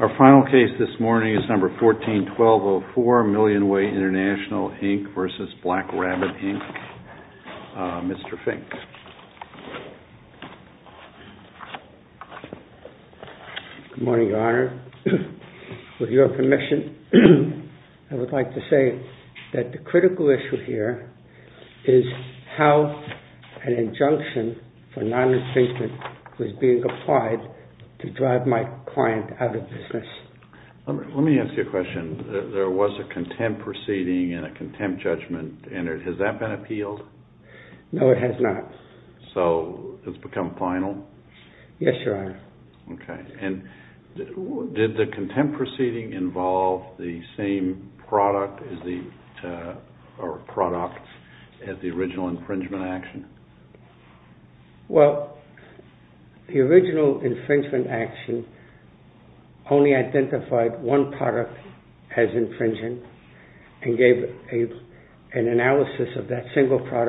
Our good morning, Your Honor. With your permission, I would like to say that the critical issue here is how an injunction for non-restraint was being applied to drive my client out of the room. That is, if I may, Your Honor, I would like to say that the critical issue here is how an injunction for non-restraint was being applied to drive my client out of the room. With your permission, I would like to say that the critical issue here is how an injunction for non-restraint was being applied to drive my client out of the room. an injunction for non-restraint was being applied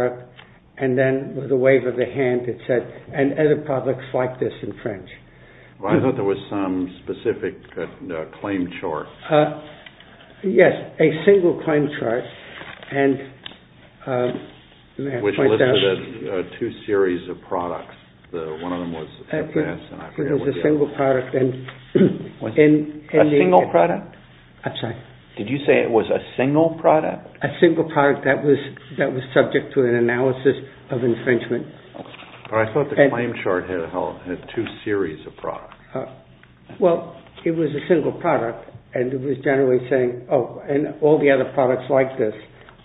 to drive my client out of the room. Did you say it was a single product? A single product that was subject to an analysis of infringement. But I thought the claim chart had two series of products. Well, it was a single product, and it was generally saying, oh, and all the other products like this,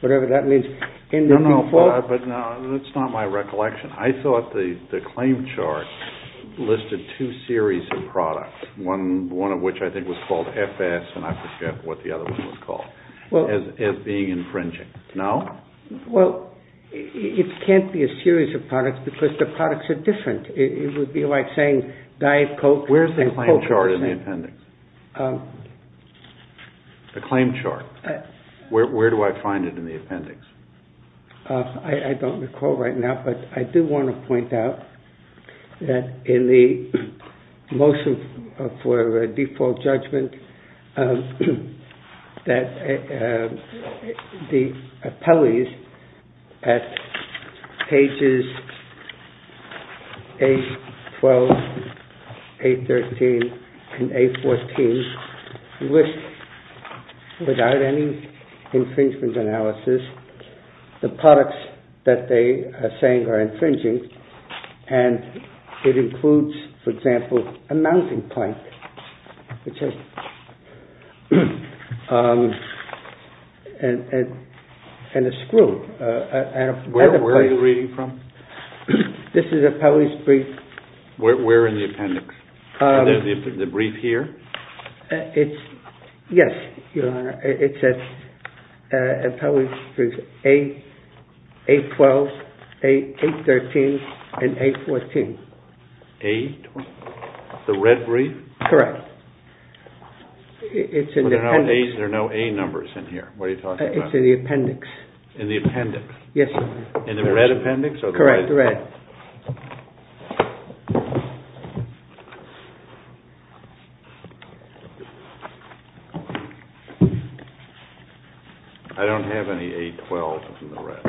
whatever that means. No, no, but that's not my recollection. I thought the claim chart listed two series of products, one of which I think was called FS, and I forget what the other one was called, as being infringing. No? Well, it can't be a series of products because the products are different. It would be like saying Diet Coke and Coke. Where's the claim chart in the appendix? The claim chart. Where do I find it in the appendix? I don't recall right now, but I do want to point out that in the motion for default judgment, that the appellees at pages A12, A13, and A14 list, without any infringement analysis, the products that they are saying are infringing, and it includes, for example, a mounting point, which is, and a screw. Where are you reading from? This is appellee's brief. Where in the appendix? The brief here? Yes, Your Honor. It's appellee's brief, A12, A13, and A14. The red brief? Correct. It's in the appendix. There are no A numbers in here. What are you talking about? It's in the appendix. In the appendix? Yes, Your Honor. In the red appendix? Correct, the red. I don't have any A12 in the red.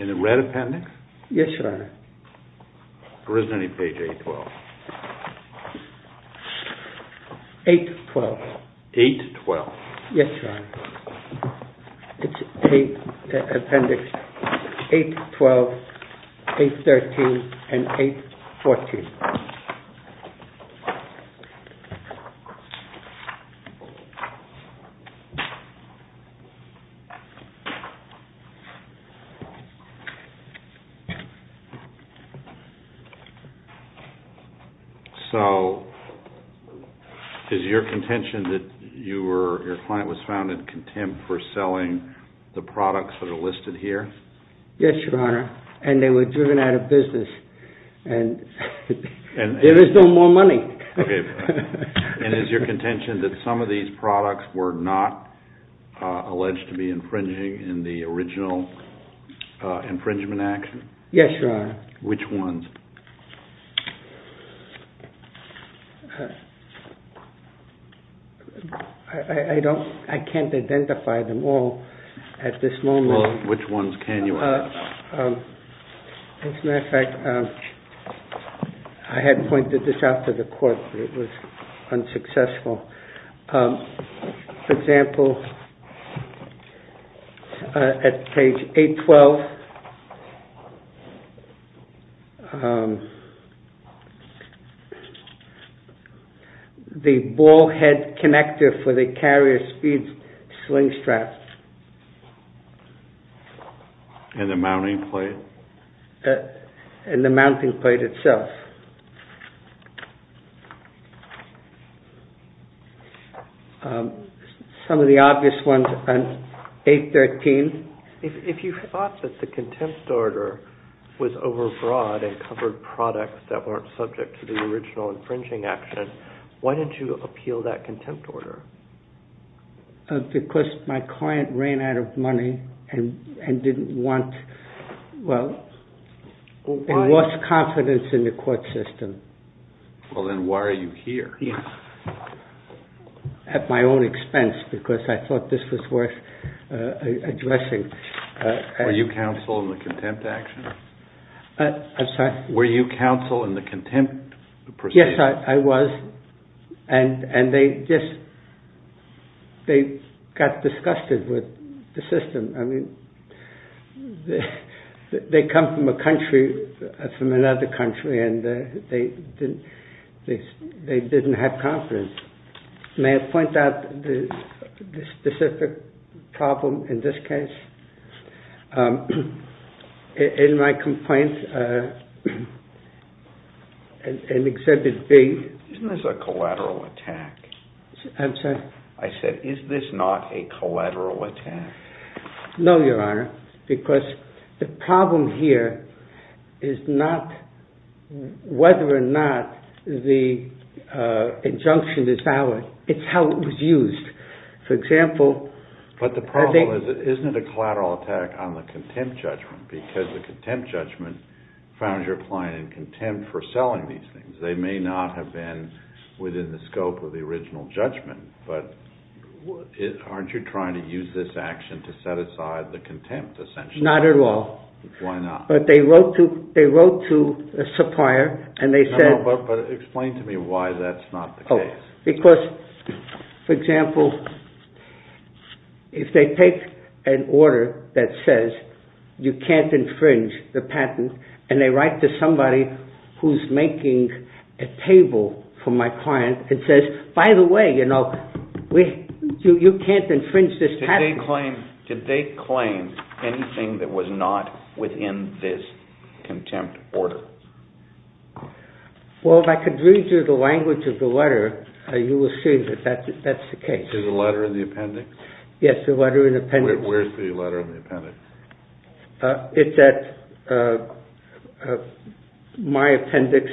In the red appendix? Yes, Your Honor. Or is there any page A12? A12. A12. Yes, Your Honor. It's appendix A12, A13, and A14. So, is your contention that your client was found in contempt for selling the products that are listed here? Yes, Your Honor, and they were driven out of business, and there is no more money. And is your contention that some of these products were not alleged to be infringing in the original infringement action? Yes, Your Honor. Which ones? I can't identify them all at this moment. Well, which ones can you identify? As a matter of fact, I had pointed this out to the court, but it was unsuccessful. For example, at page A12, the ball head connector for the carrier speed sling strap. And the mounting plate? And the mounting plate itself. Some of the obvious ones are A13. If you thought that the contempt order was overbroad and covered products that weren't subject to the original infringing action, why didn't you appeal that contempt order? Because my client ran out of money and lost confidence in the court system. Well, then why are you here? At my own expense, because I thought this was worth addressing. Were you counsel in the contempt action? I'm sorry? Were you counsel in the contempt proceeding? Yes, I was. And they just got disgusted with the system. They come from a country, from another country, and they didn't have confidence. May I point out the specific problem in this case? In my complaint, in Exhibit B... Isn't this a collateral attack? I'm sorry? I said, is this not a collateral attack? No, Your Honor, because the problem here is not whether or not the injunction is valid. It's how it was used. But the problem is, isn't it a collateral attack on the contempt judgment? Because the contempt judgment found your client in contempt for selling these things. They may not have been within the scope of the original judgment. But aren't you trying to use this action to set aside the contempt, essentially? Not at all. Why not? But they wrote to a supplier, and they said... No, but explain to me why that's not the case. Because, for example, if they take an order that says you can't infringe the patent, and they write to somebody who's making a table for my client and says, by the way, you know, you can't infringe this patent. Did they claim anything that was not within this contempt order? Well, if I could read you the language of the letter, you will see that that's the case. The letter in the appendix? Yes, the letter in the appendix. Where's the letter in the appendix? It's at my appendix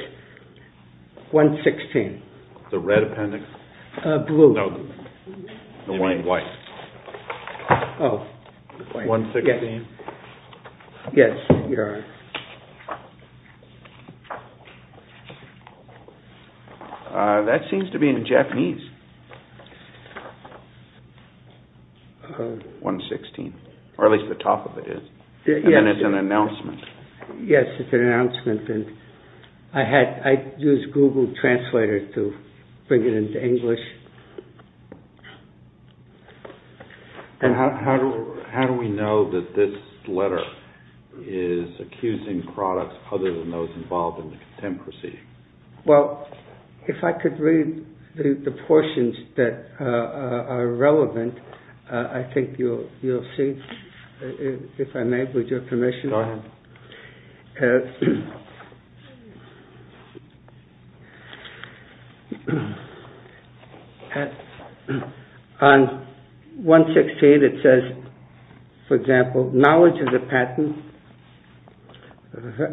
116. The red appendix? Blue. Oh. 116? Yes, Your Honor. That seems to be in Japanese. 116, or at least the top of it is. And it's an announcement. Yes, it's an announcement. And I used Google Translator to bring it into English. And how do we know that this letter is accusing products other than those involved in the contemporary? Well, if I could read the portions that are relevant, I think you'll see. If I may, would your permission? Go ahead. On 116, it says, for example, knowledge of the patent,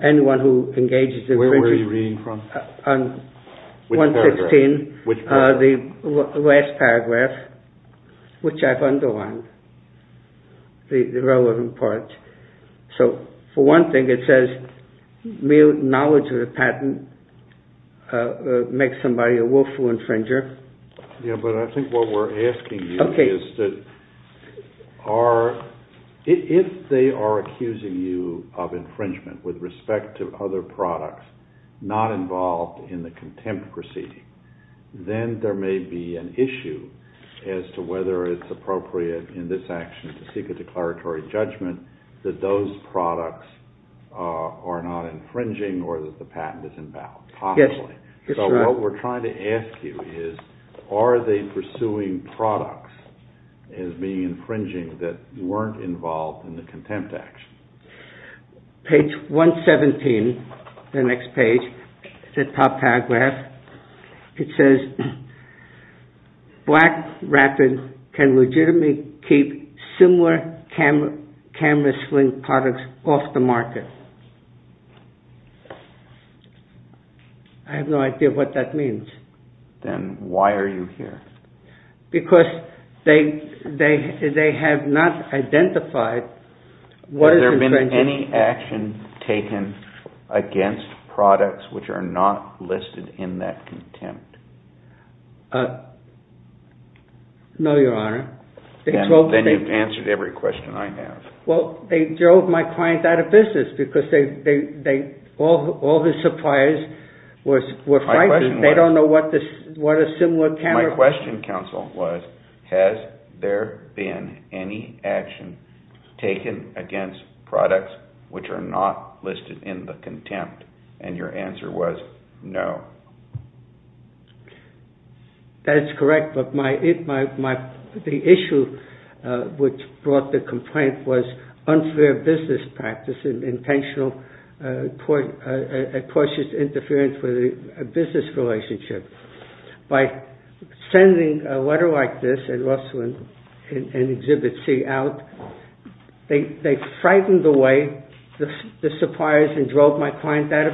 anyone who engages in… Where were you reading from? On 116, the last paragraph, which I've underlined, the relevant parts. So, for one thing, it says, knowledge of the patent makes somebody a willful infringer. Yes, but I think what we're asking you is that if they are accusing you of infringement with respect to other products not involved in the contempt proceeding, then there may be an issue as to whether it's appropriate in this action to seek a declaratory judgment that those products are not infringing or that the patent is invalid, possibly. Yes, that's right. So what we're trying to ask you is, are they pursuing products as being infringing that weren't involved in the contempt action? Page 117, the next page, the top paragraph, it says, BlackRapid can legitimately keep similar camera sling products off the market. I have no idea what that means. Then why are you here? Because they have not identified what is infringing. Has there been any action taken against products which are not listed in that contempt? No, Your Honor. Then you've answered every question I have. Well, they drove my client out of business because all his suppliers were frightened. They don't know what a similar camera… My question, counsel, was, has there been any action taken against products which are not listed in the contempt? And your answer was no. That's correct, but the issue which brought the complaint was unfair business practice and intentional cautious interference with a business relationship. By sending a letter like this at Russell and Exhibit C out, they frightened away the suppliers and drove my client out of business.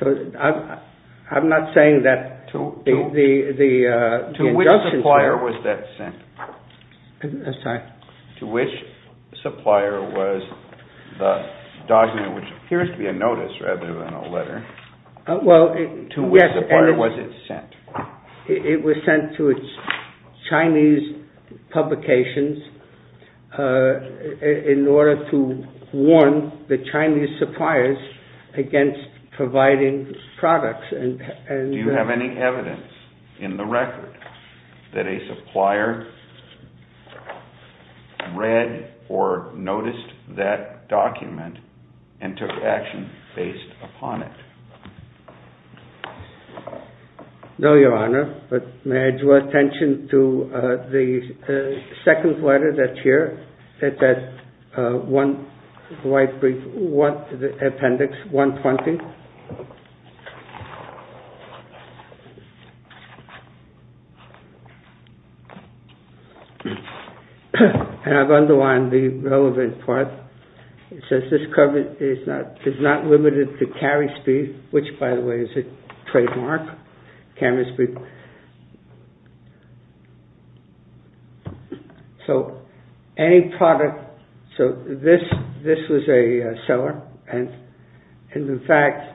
So I'm not saying that the injunctions were… To which supplier was that sent? I'm sorry? To which supplier was the document, which appears to be a notice rather than a letter, to which supplier was it sent? It was sent to Chinese publications in order to warn the Chinese suppliers against providing products. Do you have any evidence in the record that a supplier read or noticed that document and took action based upon it? No, Your Honor, but may I draw attention to the second letter that's here? It's at Appendix 120. I've underlined the relevant part. It says this coverage is not limited to carry speed, which by the way is a trademark. So any product… So this was a seller and in fact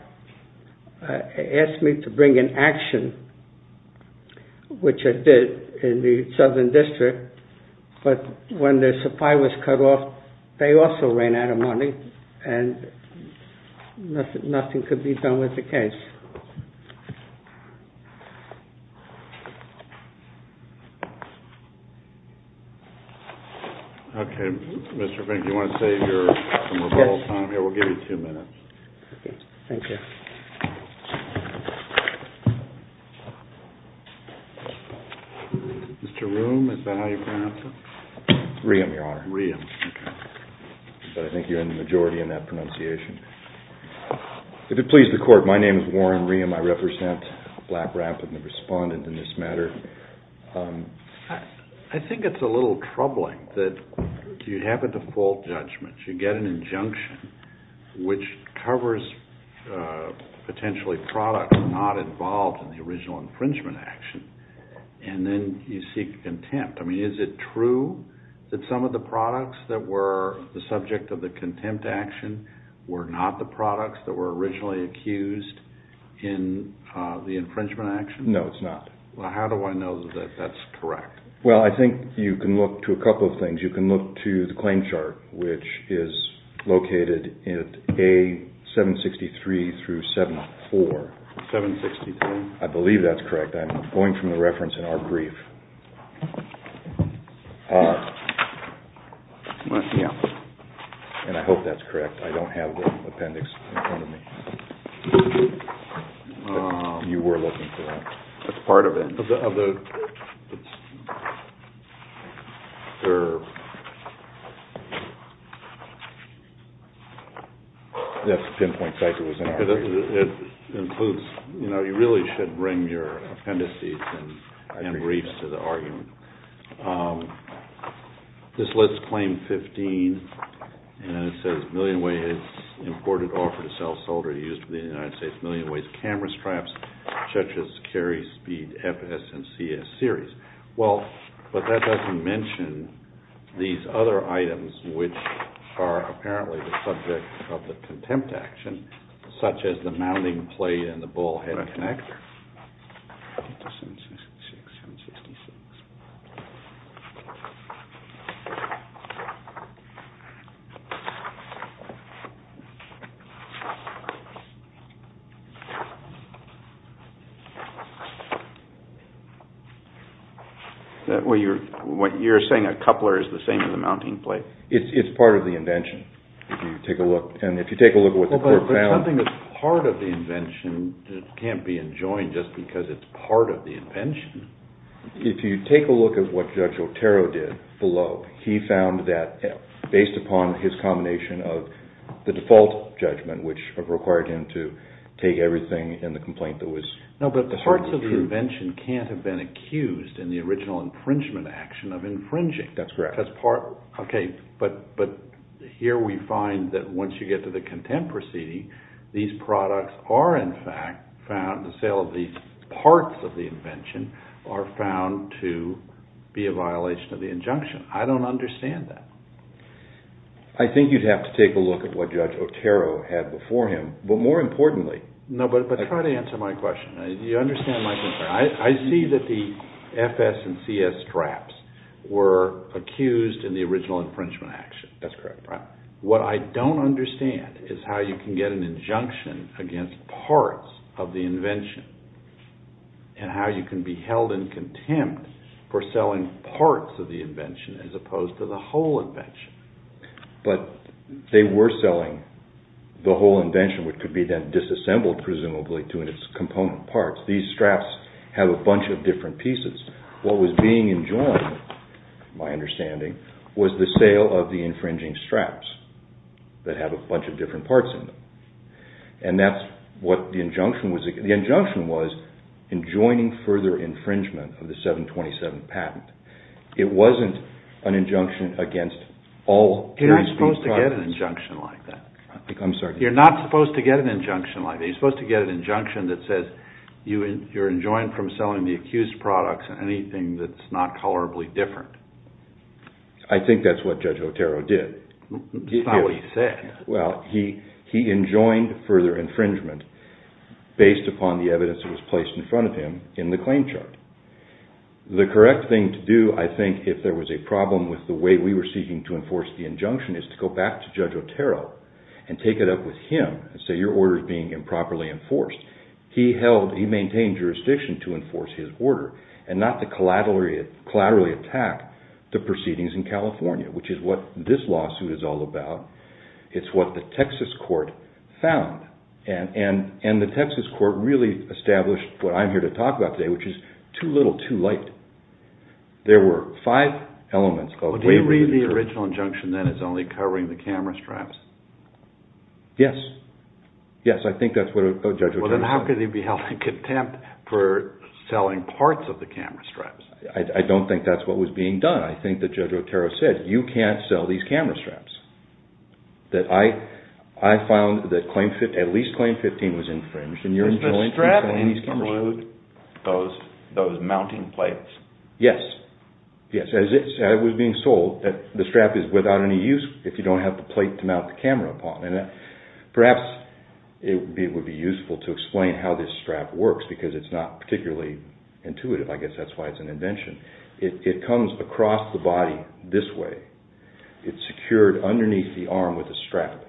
asked me to bring an action, which I did in the Southern District, but when the supplier was cut off, they also ran out of money and nothing could be done with the case. Okay, Mr. Fink, do you want to save your rebuttal time? Yes. Here, we'll give you two minutes. Okay, thank you. Mr. Ruhm, is that how you pronounce it? Ruhm, Your Honor. Ruhm, okay. But I think you're in the majority in that pronunciation. If it pleases the Court, my name is Warren Ruhm. I represent Black Rapid and the respondent in this matter. I think it's a little troubling that you have a default judgment. You get an injunction which covers potentially products not involved in the original infringement action, and then you seek contempt. I mean, is it true that some of the products that were the subject of the contempt action were not the products that were originally accused in the infringement action? No, it's not. Well, how do I know that that's correct? Well, I think you can look to a couple of things. You can look to the claim chart, which is located at A763-74. 763? I believe that's correct. I'm going from the reference in our brief. And I hope that's correct. I don't have the appendix in front of me. You were looking for that. That's part of it. That's the pinpoint site it was in. It includes, you know, you really should bring your appendices and briefs to the argument. This lists claim 15, and it says, imported offer to sell solder used for the United States Million Ways camera straps, such as Cary Speed FS and CS series. Well, but that doesn't mention these other items, which are apparently the subject of the contempt action, such as the mounting plate and the bullhead connector. Well, you're saying a coupler is the same as a mounting plate. It's part of the invention. If you take a look, and if you take a look at what the court found. Well, but something that's part of the invention can't be enjoined just because it's part of the invention. If you take a look at what Judge Otero did below, the default judgment, which required him to take everything in the complaint. No, but parts of the invention can't have been accused in the original infringement action of infringing. That's correct. Okay, but here we find that once you get to the contempt proceeding, these products are in fact found, the sale of these parts of the invention, are found to be a violation of the injunction. I don't understand that. I think you'd have to take a look at what Judge Otero had before him, but more importantly. No, but try to answer my question. You understand my concern. I see that the FS and CS straps were accused in the original infringement action. That's correct. What I don't understand is how you can get an injunction against parts of the invention and how you can be held in contempt for selling parts of the invention as opposed to the whole invention. But they were selling the whole invention, which could be then disassembled presumably to its component parts. These straps have a bunch of different pieces. What was being enjoined, my understanding, was the sale of the infringing straps that have a bunch of different parts in them. And that's what the injunction was. The injunction was enjoining further infringement of the 727 patent. It wasn't an injunction against all of these products. You're not supposed to get an injunction like that. I'm sorry? You're not supposed to get an injunction like that. You're supposed to get an injunction that says you're enjoined from selling the accused products and anything that's not colorably different. I think that's what Judge Otero did. That's not what he said. Well, he enjoined further infringement based upon the evidence that was placed in front of him in the claim chart. The correct thing to do, I think, if there was a problem with the way we were seeking to enforce the injunction is to go back to Judge Otero and take it up with him and say your order is being improperly enforced. He maintained jurisdiction to enforce his order and not to collaterally attack the proceedings in California, which is what this lawsuit is all about. It's what the Texas court found. And the Texas court really established what I'm here to talk about today, which is too little, too late. There were five elements. Do you read the original injunction then as only covering the camera straps? Yes. Yes, I think that's what Judge Otero said. Well, then how could he be held in contempt for selling parts of the camera straps? I don't think that's what was being done. And I think that Judge Otero said, you can't sell these camera straps. I found that at least Claim 15 was infringed. Is the strap included in those mounting plates? Yes. As it was being sold, the strap is without any use if you don't have the plate to mount the camera upon. Perhaps it would be useful to explain how this strap works because it's not particularly intuitive. I guess that's why it's an invention. It comes across the body this way. It's secured underneath the arm with a strap.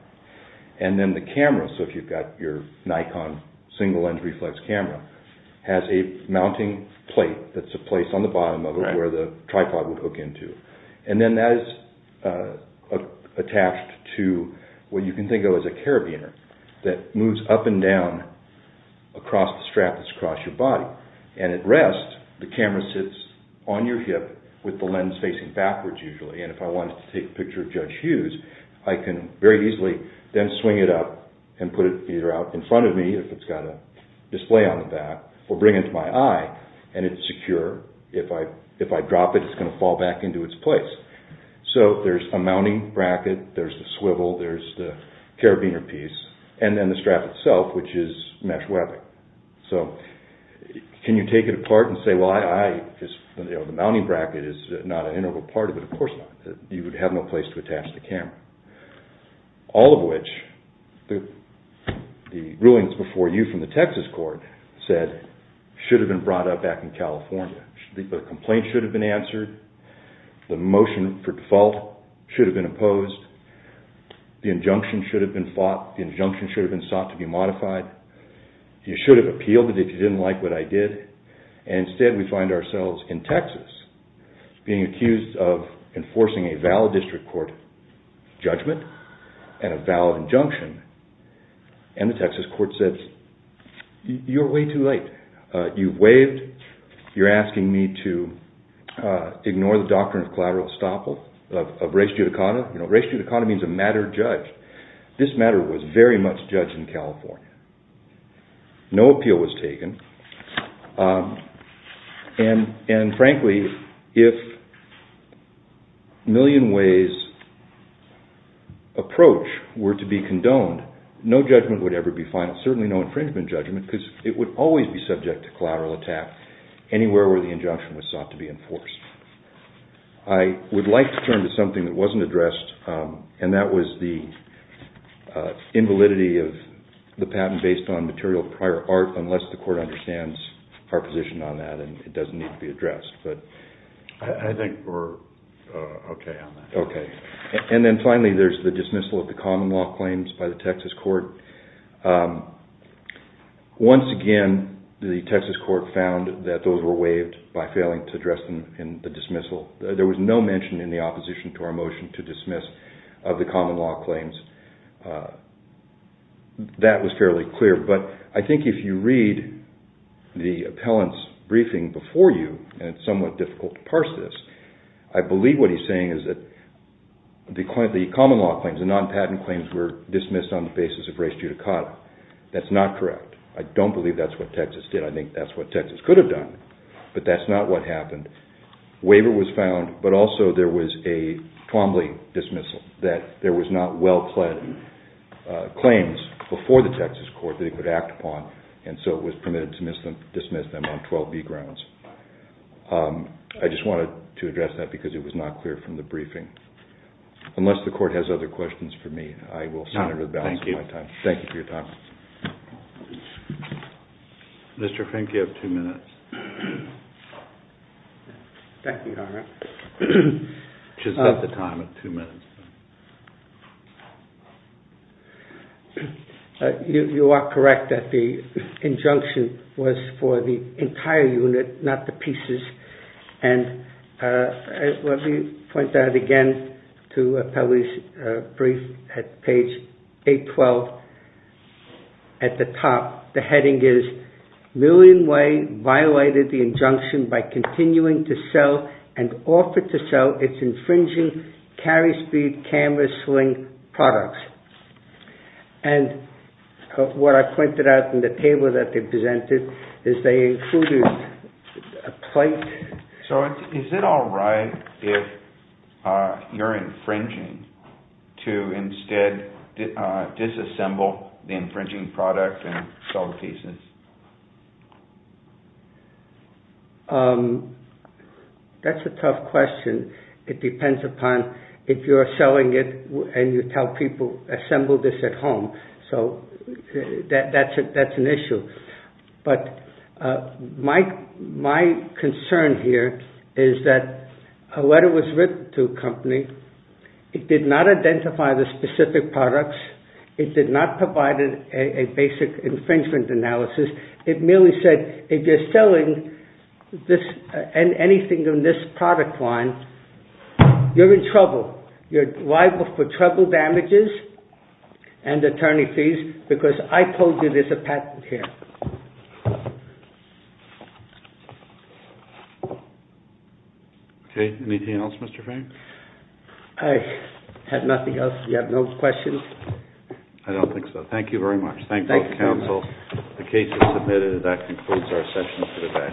And then the camera, so if you've got your Nikon single lens reflex camera, has a mounting plate that's a place on the bottom of it where the tripod would hook into. And then that is attached to what you can think of as a carabiner that moves up and down across the strap that's across your body. And at rest, the camera sits on your hip with the lens facing backwards usually. And if I wanted to take a picture of Judge Hughes, I can very easily then swing it up and put it either out in front of me, if it's got a display on the back, or bring it to my eye and it's secure. If I drop it, it's going to fall back into its place. So there's a mounting bracket, there's the swivel, there's the carabiner piece, and then the strap itself, which is mesh webbing. So can you take it apart and say, well, the mounting bracket is not an integral part of it, of course not. You would have no place to attach the camera. All of which the rulings before you from the Texas court said should have been brought up back in California. The complaint should have been answered. The motion for default should have been opposed. The injunction should have been fought. The injunction should have been sought to be modified. You should have appealed it if you didn't like what I did. And instead we find ourselves in Texas, being accused of enforcing a valid district court judgment and a valid injunction. And the Texas court says, you're way too late. You've waived. You're asking me to ignore the doctrine of collateral estoppel, of res judicata. Res judicata means a matter judged. This matter was very much judged in California. No appeal was taken. And frankly, if a million ways approach were to be condoned, no judgment would ever be final. Certainly no infringement judgment, because it would always be subject to collateral attack anywhere where the injunction was sought to be enforced. I would like to turn to something that wasn't addressed, and that was the invalidity of the patent based on material prior art, unless the court understands our position on that, and it doesn't need to be addressed. I think we're okay on that. Okay. And then finally there's the dismissal of the common law claims by the Texas court. Once again, the Texas court found that those were waived by failing to address them in the dismissal. There was no mention in the opposition to our motion to dismiss of the common law claims. That was fairly clear. But I think if you read the appellant's briefing before you, and it's somewhat difficult to parse this, I believe what he's saying is that the common law claims, the non-patent claims were dismissed on the basis of res judicata. That's not correct. I don't believe that's what Texas did. I think that's what Texas could have done. But that's not what happened. Waiver was found, but also there was a Twombly dismissal, that there was not well-pled claims before the Texas court that it would act upon, and so it was permitted to dismiss them on 12B grounds. I just wanted to address that because it was not clear from the briefing. Unless the court has other questions for me, I will send it to the balance of my time. No, thank you. Thank you for your time. Mr. Fink, you have two minutes. Thank you, Your Honor. She's got the time of two minutes. You are correct that the injunction was for the entire unit, not the pieces, and let me point that again to Appellee's brief at page 812. At the top, the heading is, Million Way violated the injunction by continuing to sell and offer to sell its infringing carry speed camera swing products. And what I pointed out in the table that they presented is they included a plate. So is it all right if you're infringing to instead disassemble the infringing product and sell the pieces? That's a tough question. It depends upon if you're selling it and you tell people, assemble this at home. So that's an issue. But my concern here is that a letter was written to a company. It did not identify the specific products. It did not provide a basic infringement analysis. It merely said, if you're selling anything on this product line, you're in trouble. You're liable for trouble damages and attorney fees because I told you there's a patent here. Okay. Anything else, Mr. Fang? I have nothing else. You have no questions? I don't think so. Thank you very much. Thank you, counsel. The case is submitted and that concludes our session for today.